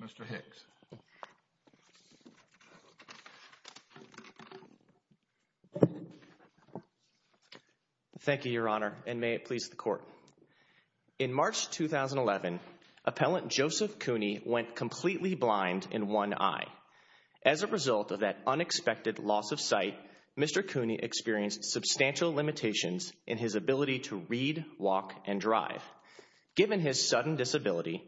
Mr. Hicks. Thank you, Your Honor, and may it please the Court. In March 2011, Appellant Joseph Cooney went completely blind in one eye. As a result of that unexpected loss of sight, Mr. Cooney experienced substantial limitations in his ability to read, walk, and drive. Given his sudden disability,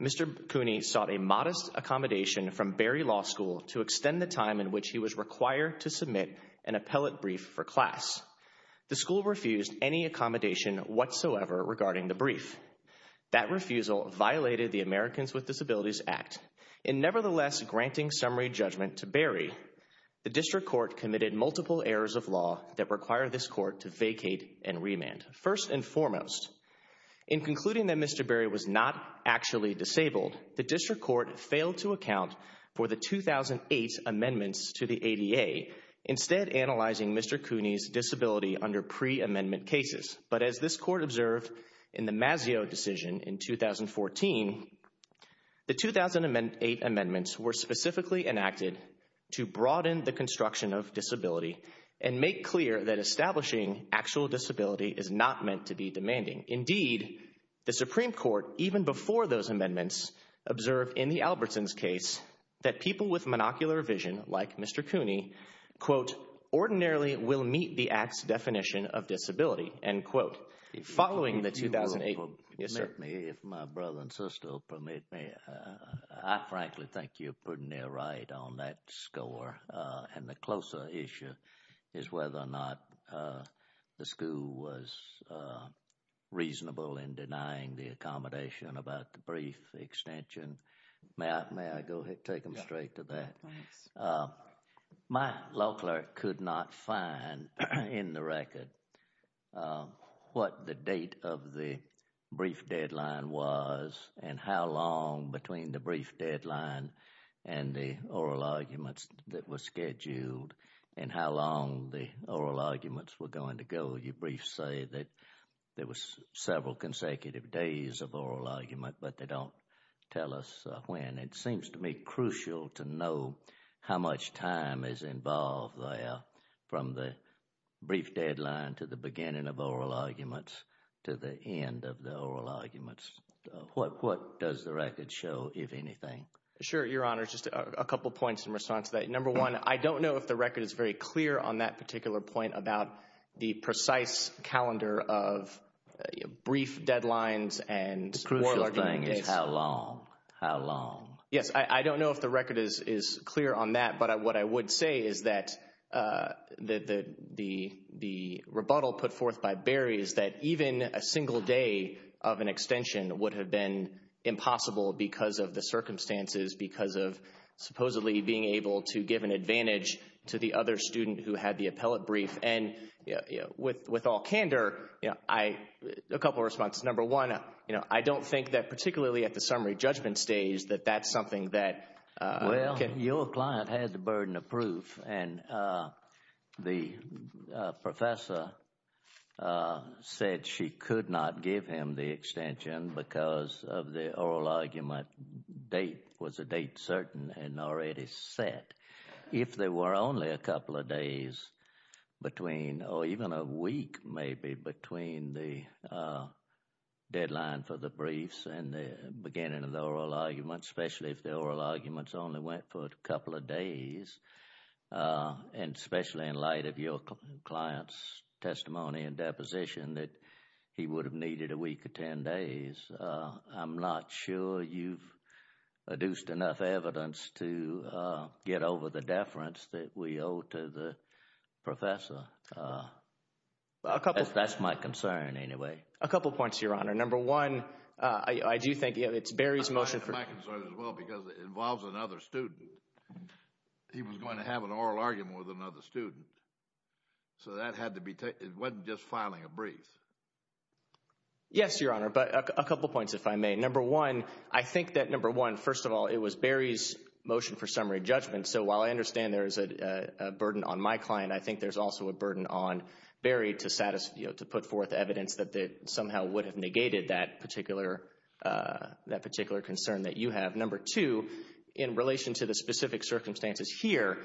Mr. Cooney sought a modest accommodation from Barry Law School to extend the time in which he was required to submit an appellate brief for class. The school refused any accommodation whatsoever regarding the brief. That refusal violated the Americans with Disabilities Act. In nevertheless granting summary judgment to Barry, the District Court committed multiple errors of law that require this Court to vacate and remand. First and foremost, in concluding that Mr. Barry was not actually disabled, the District Court failed to account for the 2008 amendments to the ADA instead analyzing Mr. Cooney's disability under pre-amendment cases. But as this Court observed in the Mazzeo decision in 2014, the 2008 amendments were specifically enacted to broaden the construction of disability and make clear that establishing actual disability is not meant to be demanding. Indeed, the Supreme Court, even before those amendments, observed in the Albertsons case that people with monocular vision like Mr. Cooney, quote, ordinarily will meet the Act's definition of disability, end quote. Following the 2008, yes sir. If my brother and sister will permit me, I frankly think you're putting it right on that score and the closer issue is whether or not the school was reasonable in denying the accommodation about the brief extension. May I go ahead and take them straight to that? My law clerk could not find in the record what the date of the brief deadline was and how long between the brief deadline and the oral arguments that were scheduled and how long the oral arguments were going to go. Your briefs say that there was several consecutive days of oral argument, but they don't tell us when. It seems to me crucial to know how much time is involved there from the brief deadline to the beginning of oral arguments to the end of the oral arguments. What does the record show, if anything? Sure, Your Honor. Just a couple points in response to that. Number one, I don't know if the record is very clear on that particular point about the precise calendar of brief deadlines and crucial thing is how long, how long. Yes, I don't know if the record is clear on that, but what I would say is that the rebuttal put forth by Barry is that even a single day of an extension would have been impossible because of the circumstances, because of supposedly being able to give an other student who had the appellate brief. And with all candor, a couple of responses. Number one, you know, I don't think that particularly at the summary judgment stage that that's something that— Well, your client has a burden of proof, and the professor said she could not give him the extension because of the oral argument date was a date certain and already set. If there were only a couple of days between or even a week maybe between the deadline for the briefs and the beginning of the oral argument, especially if the oral arguments only went for a couple of days, and especially in light of your client's testimony and deposition that he would have needed a week or ten days, I'm not sure you've enough evidence to get over the deference that we owe to the professor. That's my concern anyway. A couple points, your honor. Number one, I do think it's Barry's motion for— My concern as well because it involves another student. He was going to have an oral argument with another student, so that had to be—it wasn't just filing a brief. Yes, your honor, but a couple points if I may. Number one, I think that, number one, first of all, it was Barry's motion for summary judgment, so while I understand there is a burden on my client, I think there's also a burden on Barry to put forth evidence that somehow would have negated that particular concern that you have. Number two, in relation to the specific circumstances here,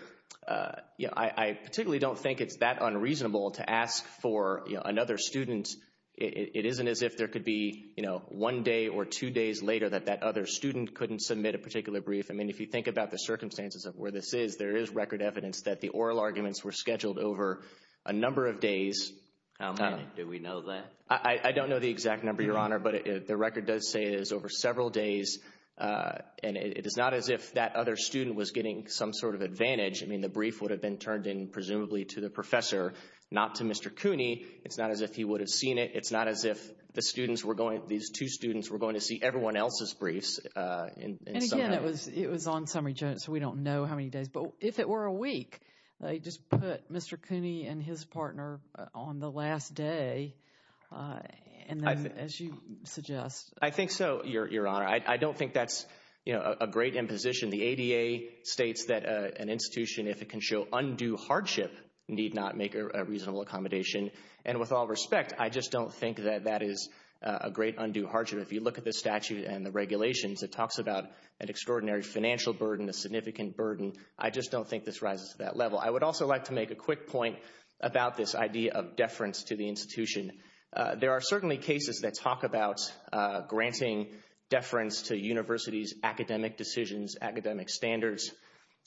I particularly don't think it's that unreasonable to ask for another student. It isn't as if there could be one day or two days later that that other student couldn't submit a particular brief. I mean, if you think about the circumstances of where this is, there is record evidence that the oral arguments were scheduled over a number of days. How many? Do we know that? I don't know the exact number, your honor, but the record does say it is over several days, and it is not as if that other student was getting some sort of advantage. I mean, the brief would have been turned in, presumably, to the professor, not to Mr. Cooney. It's not as if he would have seen it. It's not as if the students were going—these two students were going to see everyone else's briefs in summary. And again, it was on summary, so we don't know how many days, but if it were a week, they just put Mr. Cooney and his partner on the last day, and then, as you suggest— I think so, your honor. I don't think that's a great imposition. The ADA states that an institution, if it can show undue hardship, need not make a reasonable accommodation, and with all respect, I just don't think that that is a great undue hardship. If you look the statute and the regulations, it talks about an extraordinary financial burden, a significant burden. I just don't think this rises to that level. I would also like to make a quick point about this idea of deference to the institution. There are certainly cases that talk about granting deference to universities' academic decisions, academic standards.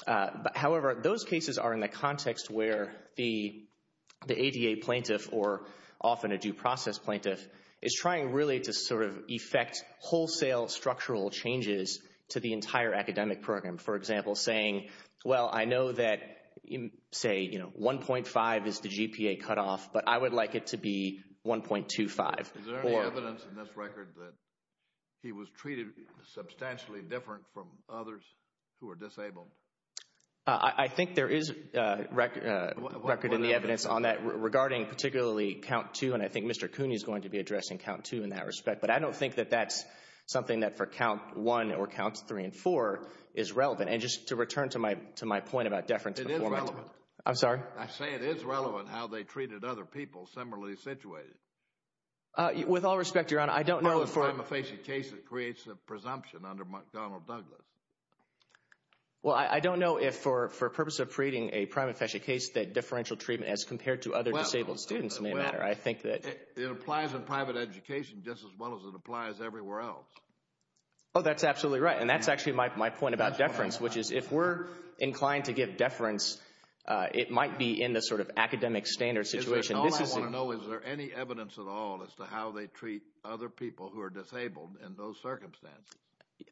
However, those cases are in the context where the ADA plaintiff, or often a due process plaintiff, is trying really to sort of effect wholesale structural changes to the entire academic program. For example, saying, well, I know that, say, you know, 1.5 is the GPA cutoff, but I would like it to be 1.25. Is there any evidence in this record that he was treated substantially different from others who are disabled? I think there is a record in the evidence on that regarding particularly count two, and I think Mr. Cooney is going to be addressing count two in that respect, but I don't think that that's something that for count one or counts three and four is relevant. And just to return to my point about deference, I'm sorry. I say it is relevant how they treated other people similarly situated. With all respect, Your Honor, I don't know. How is time effacing cases creates a presumption under McDonnell Douglas? Well, I don't know if for purpose of creating a prime efficient case that differential treatment as compared to other disabled students may matter. I think that it applies in private education just as well as it applies everywhere else. Oh, that's absolutely right. And that's actually my point about deference, which is if we're inclined to give deference, it might be in the sort of academic standard situation. All I want to know, is there any evidence at all as to how they treat other people who are disabled in those circumstances?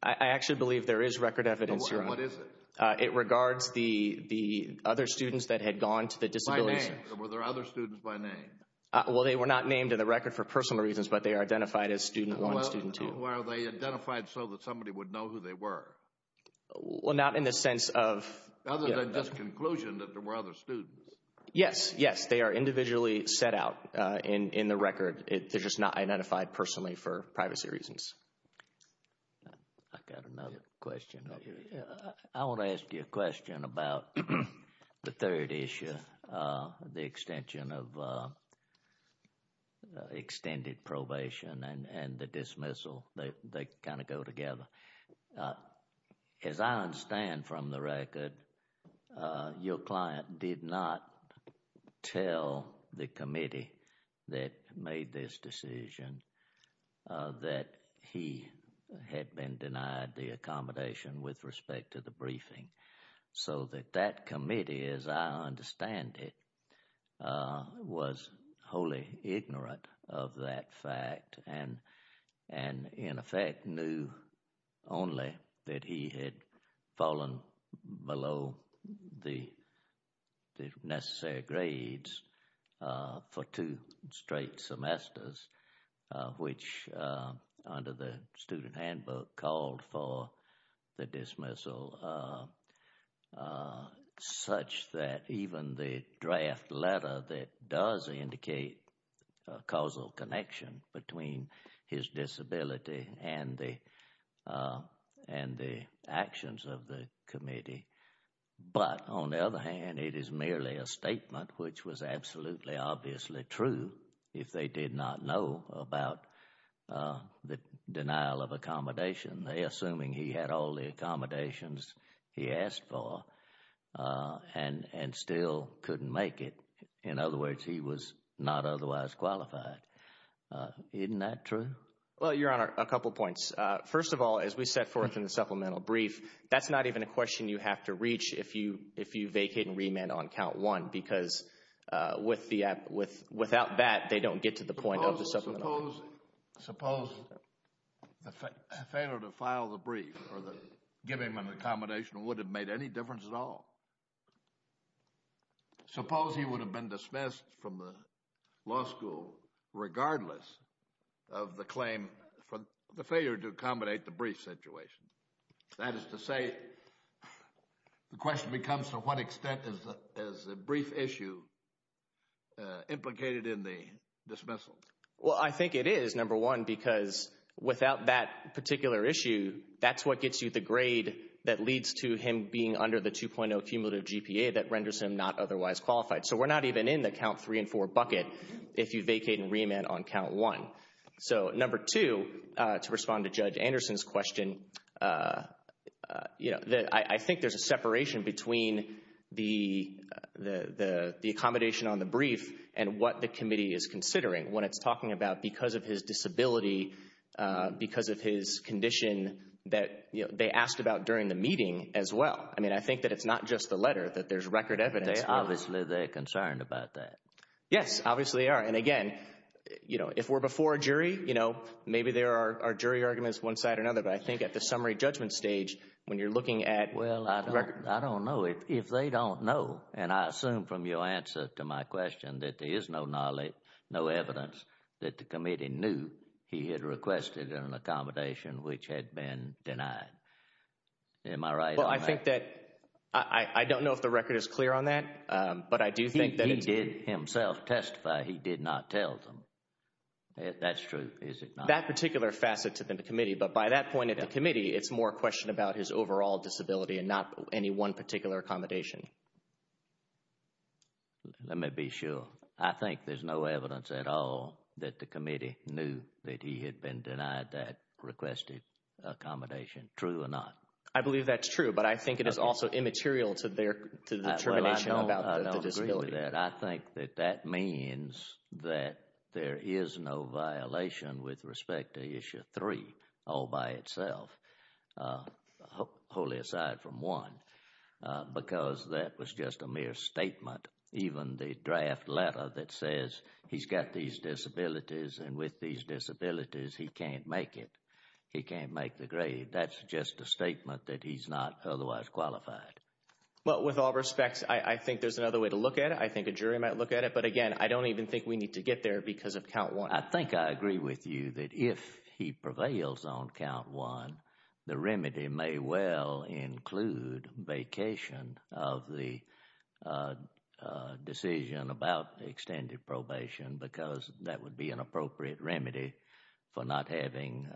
I actually believe there is record evidence, Your Honor. What is it? It regards the other students that had gone to the disability center. Were there other students by name? Well, they were not named in the record for personal reasons, but they are identified as student one and student two. Were they identified so that somebody would know who they were? Well, not in the sense of. Other than just conclusion that there were other students. Yes, yes. They are individually set out in the record. They're just not identified personally for privacy reasons. I've got another question. I want to ask you a question about the third issue, the extension of extended probation and the dismissal. They kind of go together. As I understand from the record, your client did not tell the committee that made this decision that he had been denied the accommodation with respect to the briefing so that that committee, as I understand it, was wholly ignorant of that fact and in effect knew only that he had fallen below the necessary grades for two straight semesters. Which under the student handbook called for the dismissal such that even the draft letter that does indicate a causal connection between his disability and the and the actions of the committee. But on the other hand, it is merely a statement which was absolutely obviously true if they did not know about the denial of accommodation. They assuming he had all the accommodations he asked for and still couldn't make it. In other words, he was not otherwise qualified. Isn't that true? Well, your Honor, a couple of points. First of all, as we set forth in the supplemental brief, that's not even a question you have to reach if you vacate and remand on count one, because without that, they don't get to the point of the supplemental. Suppose the failure to file the brief or the give him an accommodation would have made any difference at all. Suppose he would have been dismissed from the law school regardless of the claim for the failure to accommodate the brief situation. That is to say the question becomes to what extent is the brief issue implicated in the Well, I think it is, number one, because without that particular issue, that's what gets you the grade that leads to him being under the 2.0 cumulative GPA that renders him not otherwise qualified. So we're not even in the count three and four bucket if you vacate and remand on count one. So number two, to respond to Judge Anderson's question, you know, I think there's a about because of his disability, because of his condition that they asked about during the meeting as well. I mean, I think that it's not just the letter, that there's record evidence. Obviously, they're concerned about that. Yes, obviously they are. And again, you know, if we're before a jury, you know, maybe there are jury arguments one side or another. But I think at the summary judgment stage, when you're looking at Well, I don't know if they don't know. And I assume from your answer to my question that there is no knowledge, no evidence that the committee knew he had requested an accommodation which had been denied. Am I right? But I think that I don't know if the record is clear on that. But I do think that he did himself testify. He did not tell them. That's true. That particular facet to the committee. But by that point at the committee, it's more a question about his overall disability and not any one particular accommodation. Let me be sure. I think there's no evidence at all that the committee knew that he had been denied that requested accommodation. True or not? I believe that's true. But I think it is also immaterial to their determination about the disability. I think that that means that there is no violation with respect to Issue 3 all by itself. Hopefully, aside from one, because that was just a mere statement. Even the draft letter that says he's got these disabilities and with these disabilities, he can't make it. He can't make the grade. That's just a statement that he's not otherwise qualified. But with all respects, I think there's another way to look at it. I think a jury might look at it. But again, I don't even think we need to get there because of count one. I think I agree with you that if he prevails on count one, the remedy may well include vacation of the decision about extended probation because that would be an appropriate remedy for not having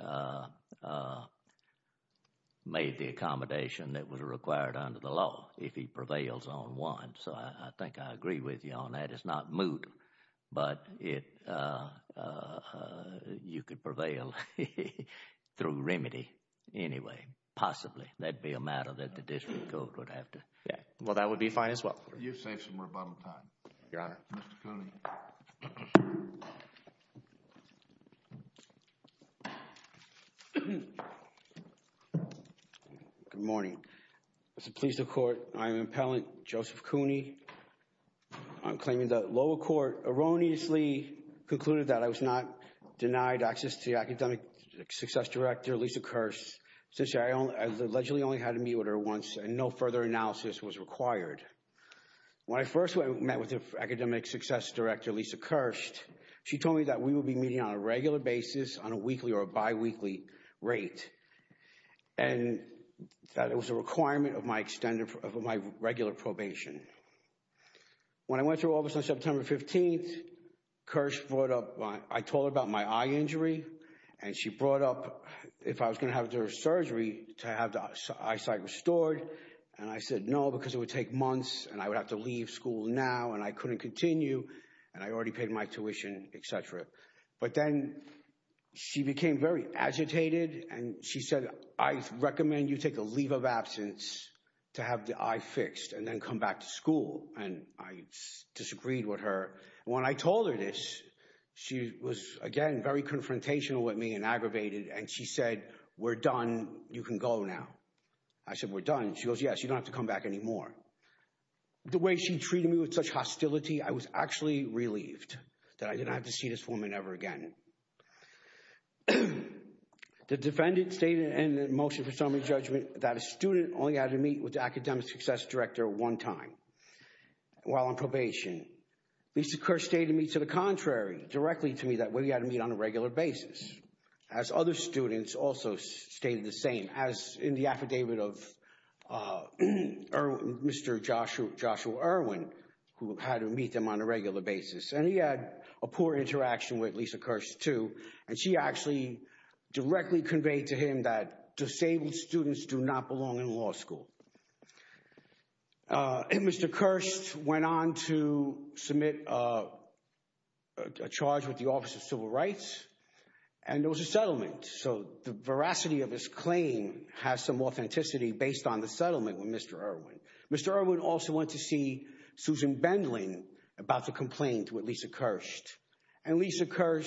made the accommodation that was required under the law if he prevails on one. I think I agree with you on that. It's not moot. But you could prevail through remedy anyway, possibly. That would be a matter that the district court would have to... Yeah. Well, that would be fine as well. You've saved some rebuttal time. Your Honor. Mr. Cooney. Good morning. It's a pleasure to court. I'm Appellant Joseph Cooney. I'm claiming the lower court erroneously concluded that I was not denied access to the academic success director, Lisa Kirst, since I allegedly only had to meet with her once and no further analysis was required. When I first met with the academic success director, Lisa Kirst, she told me that we would be meeting on a regular basis on a weekly or a biweekly rate. And that it was a requirement of my regular probation. When I went to her office on September 15th, Kirst brought up... I told her about my eye injury and she brought up if I was going to have to do a surgery to have the eyesight restored. And I said, no, because it would take months and I would have to leave school now and I couldn't continue and I already paid my tuition, et cetera. But then she became very agitated and she said, I recommend you take a leave of absence to have the eye fixed and then come back to school. And I disagreed with her. When I told her this, she was, again, very confrontational with me and aggravated. And she said, we're done. You can go now. I said, we're done. She goes, yes, you don't have to come back anymore. The way she treated me with such hostility, I was actually relieved that I didn't have to see this woman ever again. The defendant stated in the motion for summary judgment that a student only had to meet with the academic success director one time while on probation. Lisa Kerr stated to me to the contrary, directly to me that we had to meet on a regular basis as other students also stated the same as in the affidavit of Mr. Joshua Irwin who had to meet them on a regular basis. And he had a poor interaction with Lisa Kerr too. And she actually directly conveyed to him that disabled students do not belong in law school. And Mr. Kerr went on to submit a charge with the Office of Civil Rights and there was a settlement. So the veracity of his claim has some authenticity based on the settlement with Mr. Irwin. Mr. Irwin also went to see Susan Bendlin about the complaint with Lisa Kerr. And Lisa Kerr,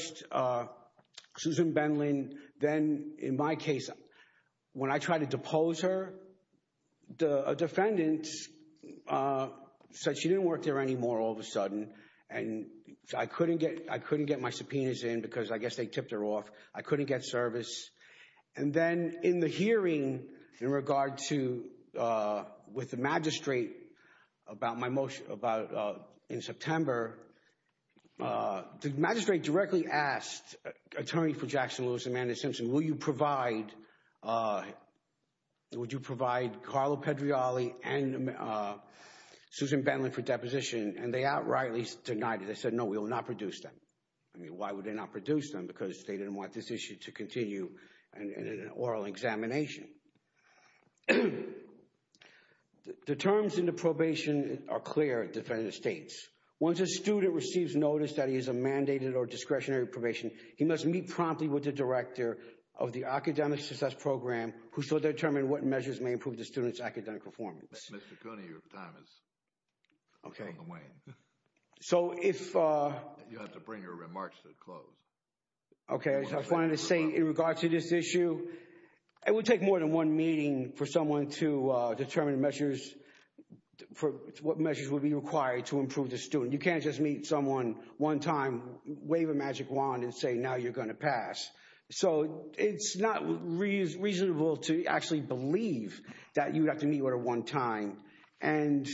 Susan Bendlin, then in my case, when I tried to depose her, a defendant said she didn't work there anymore all of a sudden. And I couldn't get my subpoenas in because I guess they tipped her off. I couldn't get service. And then in the hearing in regard to with the magistrate about my motion about in September, the magistrate directly asked attorney for Jackson Lewis, Amanda Simpson, will you provide Carlo Pedrioli and Susan Bendlin for deposition? And they outrightly denied it. They said, no, we will not produce them. I mean, why would they not produce them? Because they didn't want this issue to continue in an oral examination. The terms in the probation are clear, defendant states. Once a student receives notice that he is a mandated or discretionary probation, he must meet promptly with the director of the academic success program who shall determine what measures may improve the student's academic performance. Mr. Cooney, your time is on the way. So if... You have to bring your remarks to a close. Okay. I wanted to say in regard to this issue, it would take more than one meeting for someone to determine measures for what measures would be required to improve the student. You can't just meet someone one time, wave a magic wand and say, now you're going to pass. So it's not reasonable to actually believe that you'd have to meet with her one time. And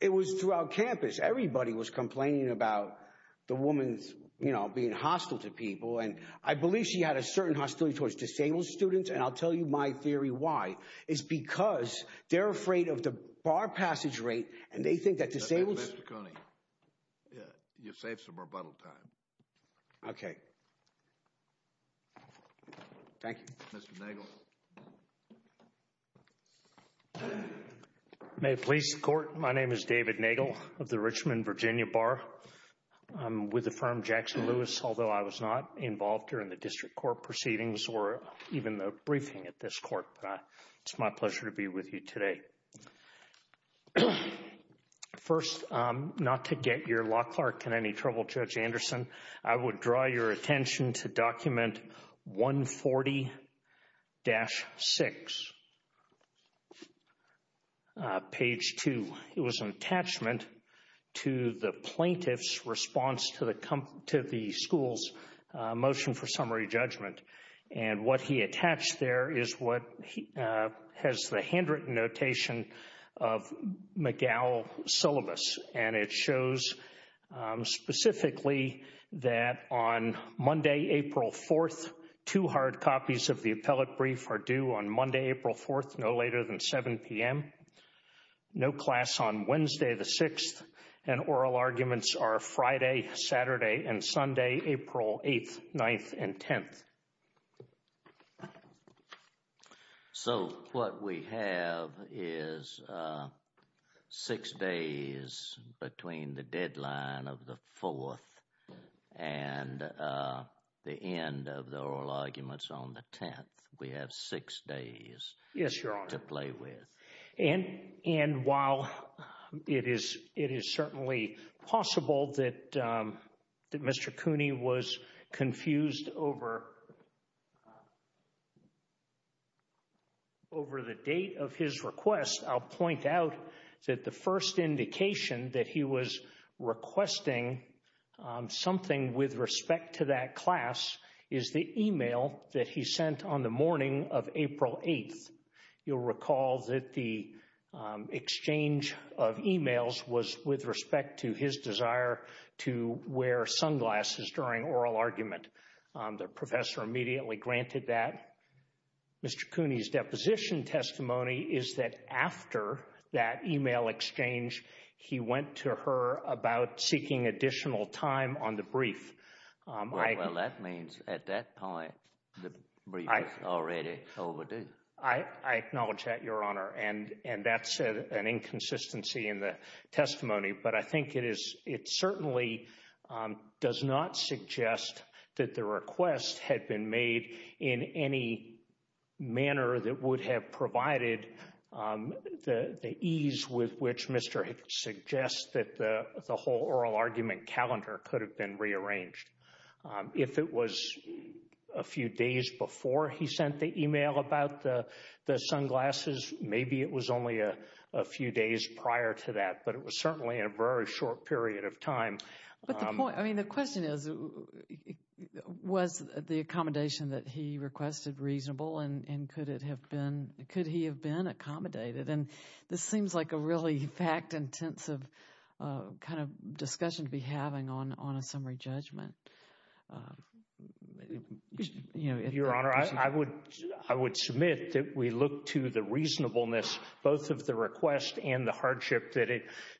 it was throughout campus. Everybody was complaining about the woman's, you know, being hostile to people. And I believe she had a certain hostility towards disabled students. And I'll tell you my theory why. It's because they're afraid of the bar passage rate and they think that disabled... Mr. Cooney, you saved some rebuttal time. Okay. Thank you. Mr. Nagel. May it please the court. My name is David Nagel of the Richmond, Virginia Bar. I'm with the firm Jackson Lewis, although I was not involved during the district court proceedings or even the briefing at this court. It's my pleasure to be with you today. First, not to get your law clerk in any trouble, Judge Anderson, I would draw your attention to document 140-6, page 2. It was an attachment to the plaintiff's response to the school's motion for summary judgment. And what he attached there is what has the handwritten notation of McGowell's syllabus. And it shows specifically that on Monday, April 4th, two hard copies of the appellate brief are due on Monday, April 4th, no later than 7 p.m. No class on Wednesday, the 6th. And oral arguments are Friday, Saturday, and Sunday, April 8th, 9th, and 10th. So, what we have is six days between the deadline of the 4th and the end of the oral arguments on the 10th. We have six days to play with. And while it is certainly possible that Mr. Cooney was confused over the date of his request, I'll point out that the first indication that he was requesting something with respect to that class is the email that he sent on the morning of April 8th. You'll recall that the exchange of emails was with respect to his desire to wear sunglasses during oral argument. The professor immediately granted that. Mr. Cooney's deposition testimony is that after that email exchange, he went to her about seeking additional time on the brief. Well, that means at that point, the brief was already overdue. I acknowledge that, Your Honor, and that's an inconsistency in the testimony. But I think it certainly does not suggest that the request had been made in any manner that would have provided the ease with which Mr. Hicks suggests that the whole oral argument calendar could have been rearranged. If it was a few days before he sent the email about the sunglasses, maybe it was only a few days prior to that. But it was certainly in a very short period of time. But the point, I mean, the question is, was the accommodation that he requested reasonable and could it have been, could he have been accommodated? And this seems like a really fact-intensive kind of discussion to be having on a summary judgment. Your Honor, I would submit that we look to the reasonableness, both of the request and the hardship that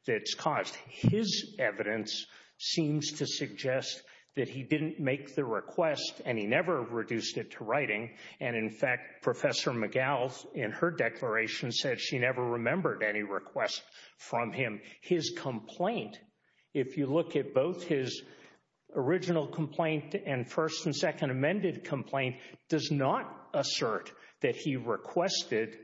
it's caused. His evidence seems to suggest that he didn't make the request and he never reduced it to writing. And in fact, Professor McGowell, in her declaration, said she never remembered any request from him. His complaint, if you look at both his original complaint and first and second amended complaint, does not assert that he requested,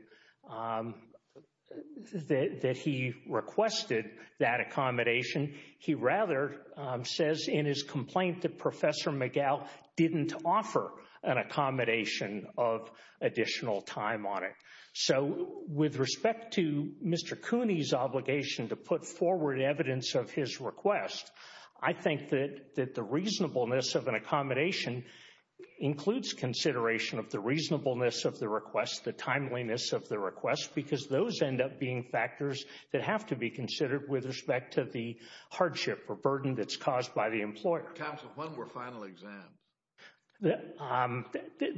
that he requested that accommodation. He rather says in his complaint that Professor McGowell didn't offer an accommodation of additional time on it. So with respect to Mr. Cooney's obligation to put forward evidence of his request, I think that the reasonableness of an accommodation includes consideration of the reasonableness of the request, the timeliness of the request, because those end up being factors that have to be considered with respect to the hardship or burden that's caused by the employer. Counsel, when were final exams?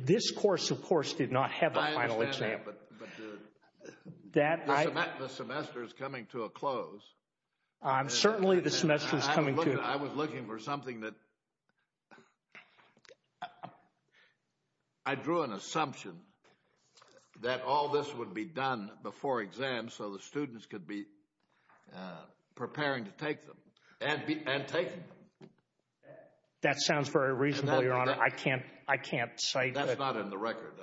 This course, of course, did not have a final exam. But the semester is coming to a close. Certainly the semester is coming to a close. I was looking for something that, I drew an assumption that all this would be done before exams so the students could be preparing to take them and take them. That sounds very reasonable, Your Honor. I can't, I can't say. That's not in the record.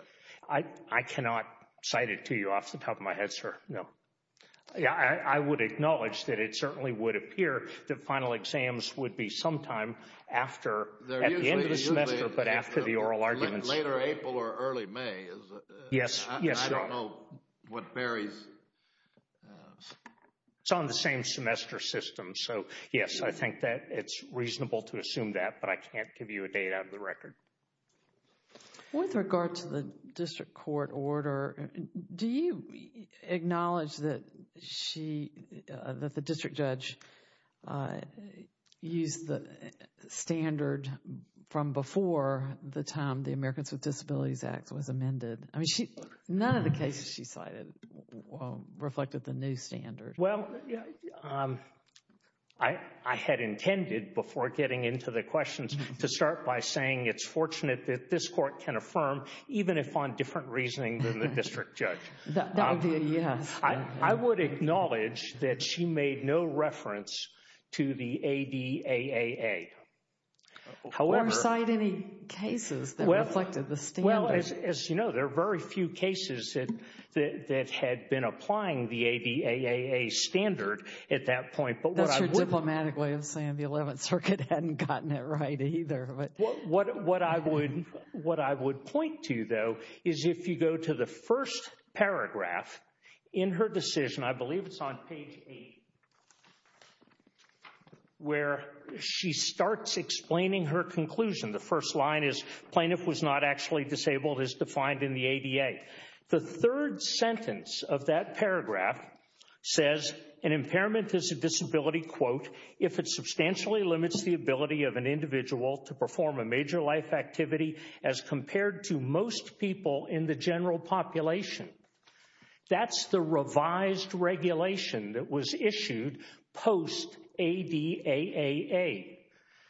I cannot cite it to you off the top of my head, sir, no. I would acknowledge that it certainly would appear that final exams would be sometime after, at the end of the semester, but after the oral arguments. Later April or early May. Yes, yes. I don't know what varies. It's on the same semester system. So yes, I think that it's reasonable to assume that. But I can't give you a date out of the record. With regard to the district court order, do you acknowledge that she, that the district judge used the standard from before the time the Americans with Disabilities Act was amended? I mean, none of the cases she cited reflected the new standard. Well, I had intended, before getting into the questions, to start by saying it's fortunate that this court can affirm, even if on different reasoning than the district judge. That would be a yes. I would acknowledge that she made no reference to the ADAAA. Or cite any cases that reflected the standard. As you know, there are very few cases that had been applying the ADAAA standard at that point. That's your diplomatic way of saying the 11th Circuit hadn't gotten it right either. What I would point to, though, is if you go to the first paragraph in her decision, I believe it's on page 8, where she starts explaining her conclusion. The first line is, plaintiff was not actually disabled, as defined in the ADAA. The third sentence of that paragraph says, an impairment is a disability, quote, if it substantially limits the ability of an individual to perform a major life activity as compared to most people in the general population. That's the revised regulation that was issued post ADAAA.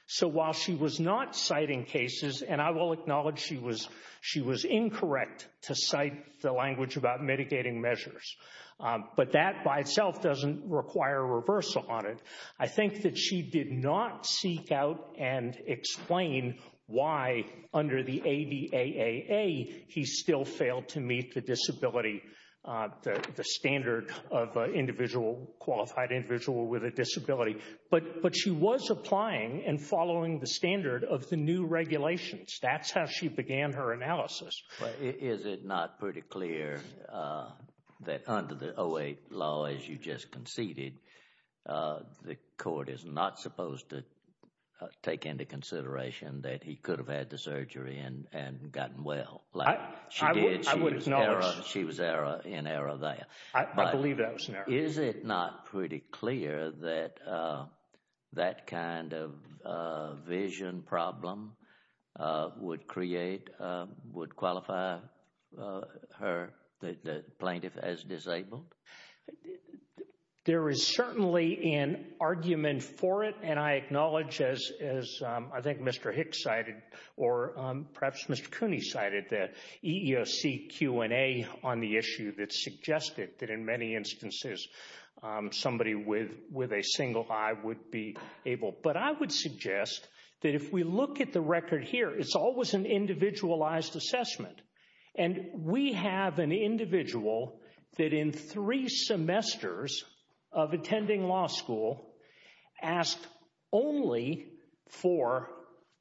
So while she was not citing cases, and I will acknowledge she was incorrect to cite the language about mitigating measures. But that by itself doesn't require reversal on it. I think that she did not seek out and explain why under the ADAAA, he still failed to meet the disability, the standard of a qualified individual with a disability. But she was applying and following the standard of the new regulations. That's how she began her analysis. Is it not pretty clear that under the 08 law, as you just conceded, the court is not supposed to take into consideration that he could have had the surgery and gotten well, like she did. I would acknowledge. She was in error there. I believe that was in error. Is it not pretty clear that that kind of vision problem would create, would qualify her, the plaintiff as disabled? There is certainly an argument for it. And I acknowledge, as I think Mr. Hicks cited, or perhaps Mr. Cooney cited, the EEOC Q&A on the issue that suggested that in many instances, somebody with a single eye would be able. But I would suggest that if we look at the record here, it's always an individualized assessment. And we have an individual that in three semesters of attending law school asked only for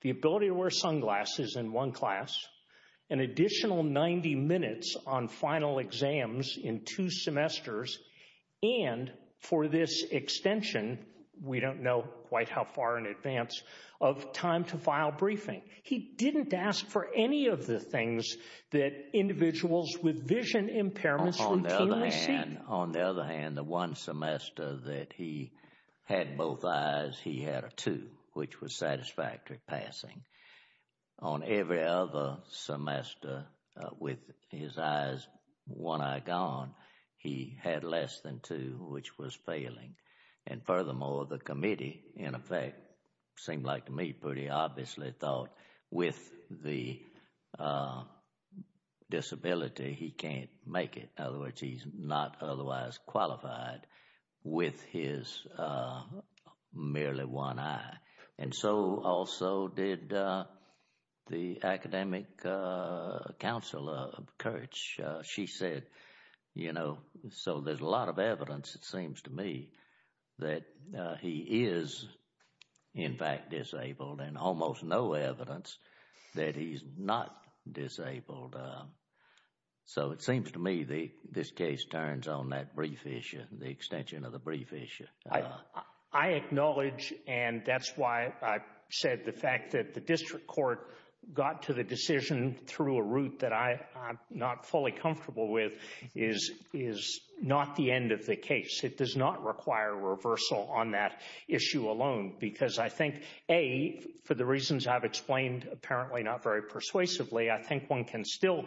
the ability to wear sunglasses in one class an additional 90 minutes on final exams in two semesters. And for this extension, we don't know quite how far in advance, of time to file briefing. He didn't ask for any of the things that individuals with vision impairments routinely seek. On the other hand, the one semester that he had both eyes, he had a two, which was satisfactory passing. On every other semester with his eyes, one eye gone, he had less than two, which was failing. And furthermore, the committee, in effect, seemed like to me pretty obviously thought with the disability, he can't make it. In other words, he's not otherwise qualified with his merely one eye. And so also did the academic counselor, Kurtz. She said, you know, so there's a lot of evidence, it seems to me, that he is, in fact, disabled and almost no evidence that he's not disabled. So it seems to me this case turns on that brief issue, the extension of the brief issue. I acknowledge, and that's why I said the fact that the district court got to the decision through a route that I'm not fully comfortable with, is not the end of the case. It does not require reversal on that issue alone. Because I think, A, for the reasons I've explained, apparently not very persuasively, I think one can still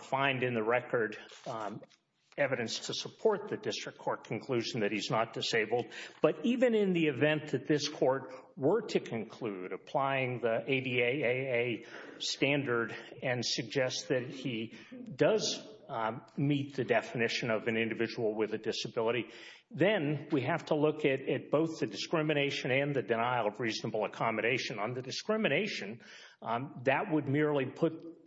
find in the record evidence to support the district court conclusion that he's not disabled. But even in the event that this court were to conclude, applying the ADAA standard and suggest that he does meet the definition of an individual with a disability, then we have to look at both the discrimination and the denial of reasonable accommodation. On the discrimination, that would merely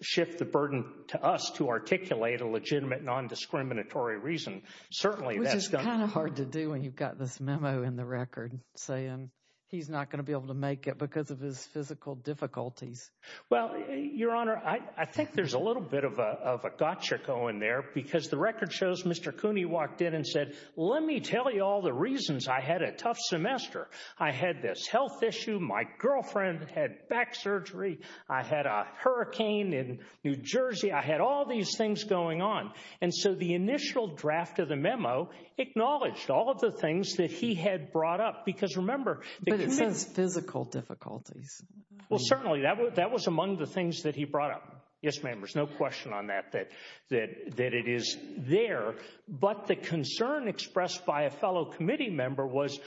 shift the burden to us to articulate a legitimate non-discriminatory reason. Certainly. Which is kind of hard to do when you've got this memo in the record saying he's not going to be able to make it because of his physical difficulties. Well, Your Honor, I think there's a little bit of a gotcha going there because the record shows Mr. Cooney walked in and said, let me tell you all the reasons I had a tough semester. I had this health issue. My girlfriend had back surgery. I had a hurricane in New Jersey. I had all these things going on. And so the initial draft of the memo acknowledged all of the things that he had brought up. Because remember, it says physical difficulties. Well, certainly that was among the things that he brought up. Yes, members, no question on that, that it is there. But the concern expressed by a fellow committee member was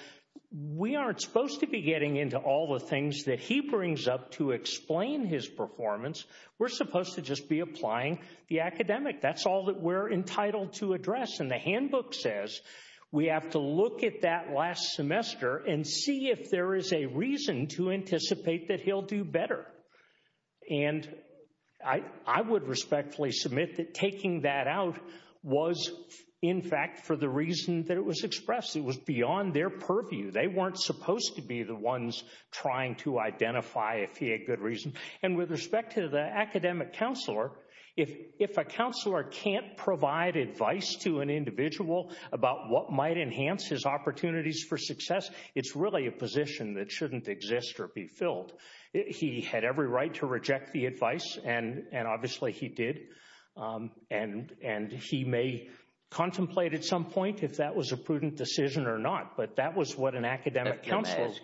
we aren't supposed to be getting into all the things that he brings up to explain his performance. We're supposed to just be applying the academic. That's all that we're entitled to address. And the handbook says we have to look at that last semester and see if there is a reason to anticipate that he'll do better. And I would respectfully submit that taking that out was, in fact, for the reason that it was expressed. It was beyond their purview. They weren't supposed to be the ones trying to identify if he had good reason. And with respect to the academic counselor, if a counselor can't provide advice to an individual about what might enhance his opportunities for success, it's really a position that shouldn't exist or be filled. He had every right to reject the advice, and obviously he did. And he may contemplate at some point if that was a prudent decision or not. But that was what an academic counselor— With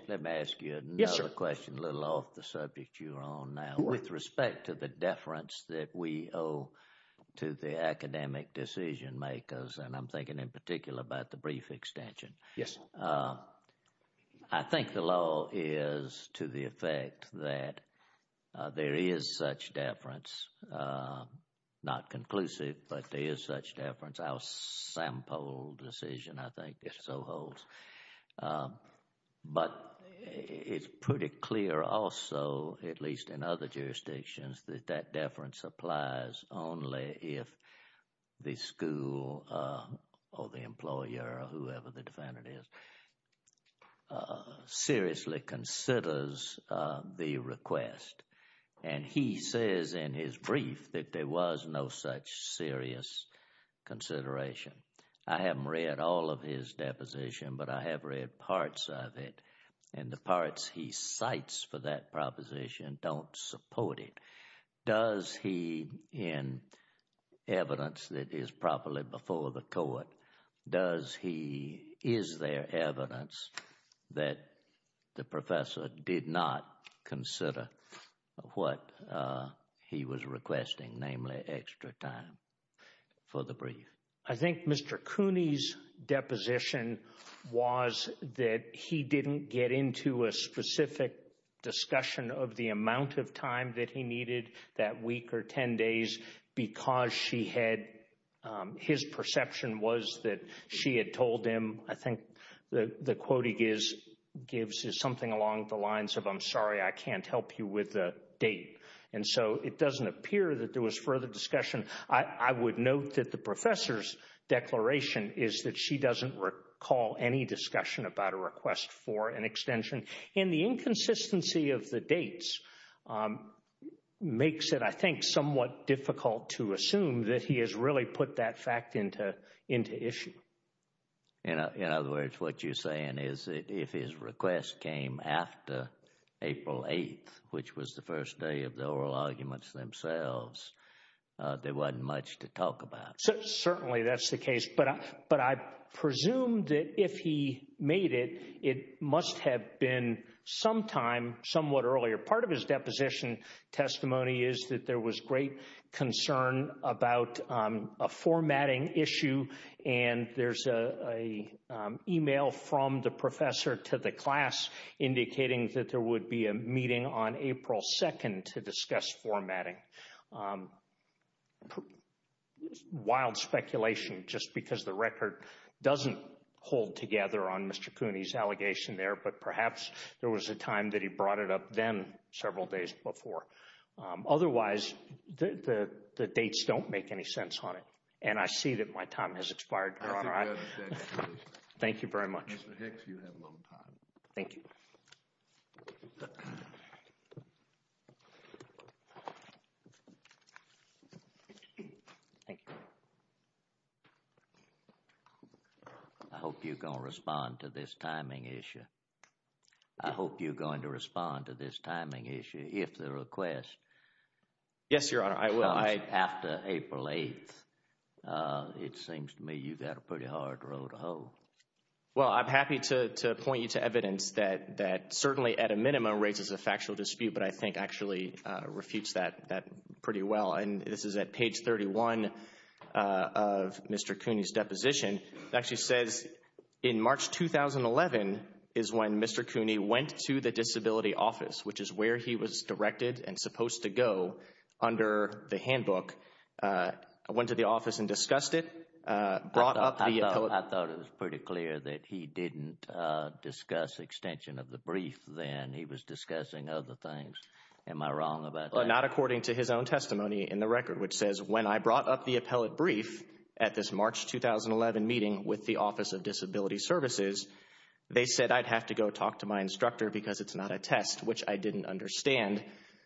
respect to the deference that we owe to the academic decision makers, and I'm thinking in particular about the brief extension. I think the law is to the effect that there is such deference, not conclusive, but there is such deference. Our sample decision, I think, so holds. But it's pretty clear also, at least in other jurisdictions, that that deference applies only if the school or the employer or whoever the defendant is seriously considers the request. And he says in his brief that there was no such serious consideration. I haven't read all of his deposition, but I have read parts of it. And the parts he cites for that proposition don't support it. Does he, in evidence that is properly before the court, does he, is there evidence that the professor did not consider what he was requesting, namely extra time for the brief? I think Mr. Cooney's deposition was that he didn't get into a specific discussion of the amount of time that he needed that week or 10 days because she had—his perception was that she had told him—I think the quoting gives something along the lines of, I'm sorry, I can't help you with the date. And so it doesn't appear that there was further discussion. I would note that the professor's declaration is that she doesn't recall any discussion about a request for an extension. And the inconsistency of the dates makes it, I think, somewhat difficult to assume that he has really put that fact into issue. In other words, what you're saying is that if his request came after April 8th, which was the first day of the oral arguments themselves, there wasn't much to talk about. Certainly that's the case, but I presume that if he made it, it must have been some time, somewhat earlier. Part of his deposition testimony is that there was great concern about a formatting issue and there's a email from the professor to the class indicating that there would be a meeting on April 2nd to discuss formatting. Wild speculation, just because the record doesn't hold together on Mr. Cooney's allegation there, but perhaps there was a time that he brought it up then, several days before. Otherwise, the dates don't make any sense on it. And I see that my time has expired, Your Honor. I think that's exactly right. Thank you very much. Mr. Hicks, you have no time. Thank you. I hope you're going to respond to this timing issue. I hope you're going to respond to this timing issue if the request comes after April 8th. It seems to me you've got a pretty hard road to hoe. Well, I'm happy to point you to evidence that certainly at a minimum raises a factual dispute, but I think actually refutes that pretty well. And this is at page 31 of Mr. Cooney's deposition. It actually says in March 2011 is when Mr. Cooney went to the disability office, which is where he was directed and supposed to go under the handbook, went to the office and discussed it, brought up the appellate. I thought it was pretty clear that he didn't discuss extension of the brief then. He was discussing other things. Am I wrong about that? Not according to his own testimony in the record, which says when I brought up the appellate brief at this March 2011 meeting with the Office of Disability Services, they said I'd have to go talk to my instructor because it's not a test, which I didn't understand.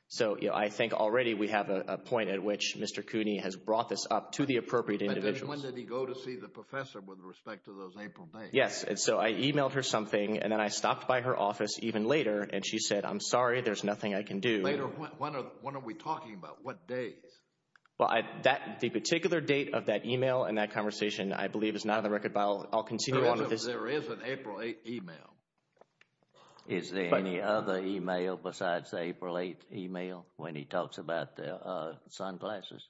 So I think already we have a point at which Mr. Cooney has brought this up to the appropriate individuals. When did he go to see the professor with respect to those April dates? Yes, and so I emailed her something and then I stopped by her office even later and she said, I'm sorry, there's nothing I can do. Later, when are we talking about? What date? Well, the particular date of that email and that conversation I believe is not on the record, but I'll continue on with this. There is an April 8th email. Is there any other email besides the April 8th email when he talks about the sunglasses?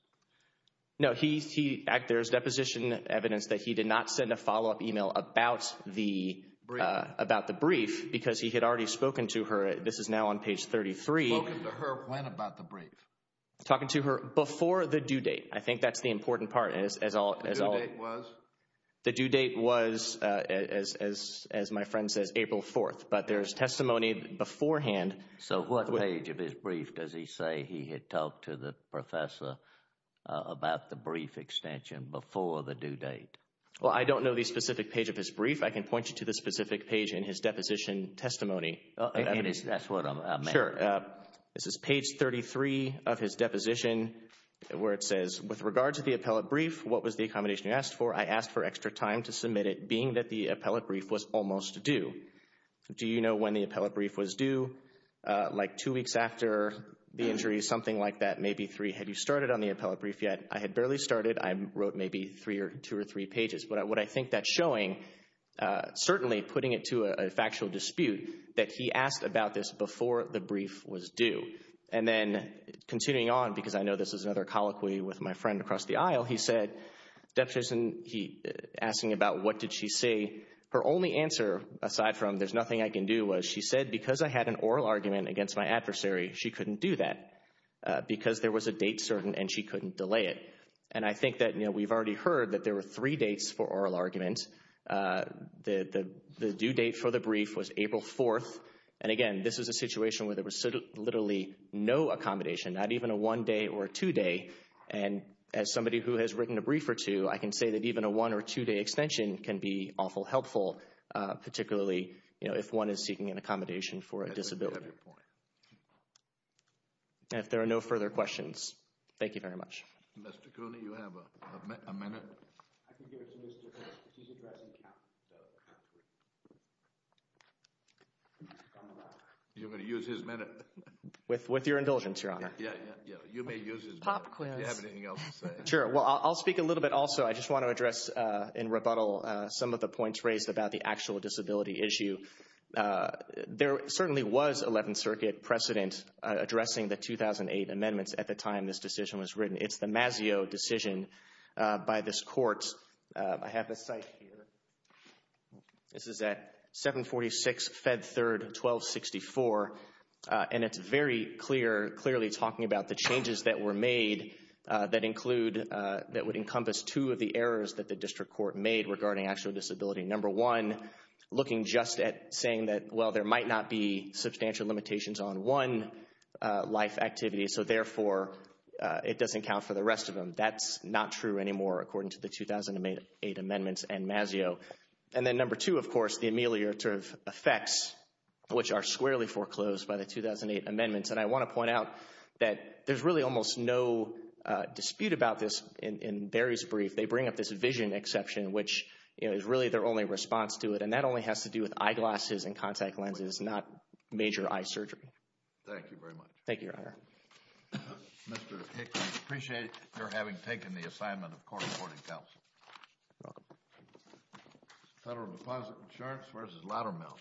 No, there's deposition evidence that he did not send a follow-up email about the brief because he had already spoken to her. This is now on page 33. Spoken to her when about the brief? Talking to her before the due date. I think that's the important part. The due date was? The due date was, as my friend says, April 4th, but there's testimony beforehand. So what page of his brief does he say he had talked to the professor about the brief extension before the due date? Well, I don't know the specific page of his brief. I can point you to the specific page in his deposition testimony. That's what I meant. Sure. This is page 33 of his deposition where it says, with regard to the appellate brief, what was the accommodation you asked for? I asked for extra time to submit it being that the appellate brief was almost due. Do you know when the appellate brief was due? Like two weeks after the injury, something like that. Maybe three. Had you started on the appellate brief yet? I had barely started. I wrote maybe three or two or three pages. But what I think that's showing, certainly putting it to a factual dispute, that he asked about this before the brief was due. And then continuing on, because I know this is another colloquy with my friend across the aisle, he said, deposition, he asking about what did she say? Her only answer, aside from there's nothing I can do, was she said, because I had an oral argument against my adversary, she couldn't do that. Because there was a date certain and she couldn't delay it. And I think that we've already heard that there were three dates for oral arguments. The due date for the brief was April 4th. And again, this is a situation where there was literally no accommodation, not even a one day or two day. And as somebody who has written a brief or two, I can say that even a one or two day extension can be awful helpful, particularly, you know, if one is seeking an accommodation for a disability. And if there are no further questions, thank you very much. Mr. Cooney, you have a minute. You're going to use his minute. With your indulgence, Your Honor. Yeah, yeah, yeah. You may use his minute. Pop quiz. Do you have anything else to say? Sure. Well, I'll speak a little bit also. I just want to address in rebuttal, some of the points raised about the actual disability issue. There certainly was 11th Circuit precedent addressing the 2008 amendments at the time this decision was written. It's the Mazzeo decision by this court. I have a site here. This is at 746 Fed Third 1264. And it's very clear, clearly talking about the changes that were made that include that would encompass two of the errors that the district court made regarding actual disability. Number one, looking just at saying that, well, there might not be substantial limitations on one life activity. So therefore, it doesn't count for the rest of them. That's not true anymore, according to the 2008 amendments and Mazzeo. And then number two, of course, the ameliorative effects, which are squarely foreclosed by the 2008 amendments. And I want to point out that there's really almost no dispute about this. In Barry's brief, they bring up this vision exception, which is really their only response to it. And that only has to do with eyeglasses and contact lenses, not major eye surgery. Thank you very much. Thank you, Your Honor. Mr. Hickman, I appreciate your having taken the assignment of court-reporting counsel. You're welcome. Federal Deposit Insurance versus Laddermill.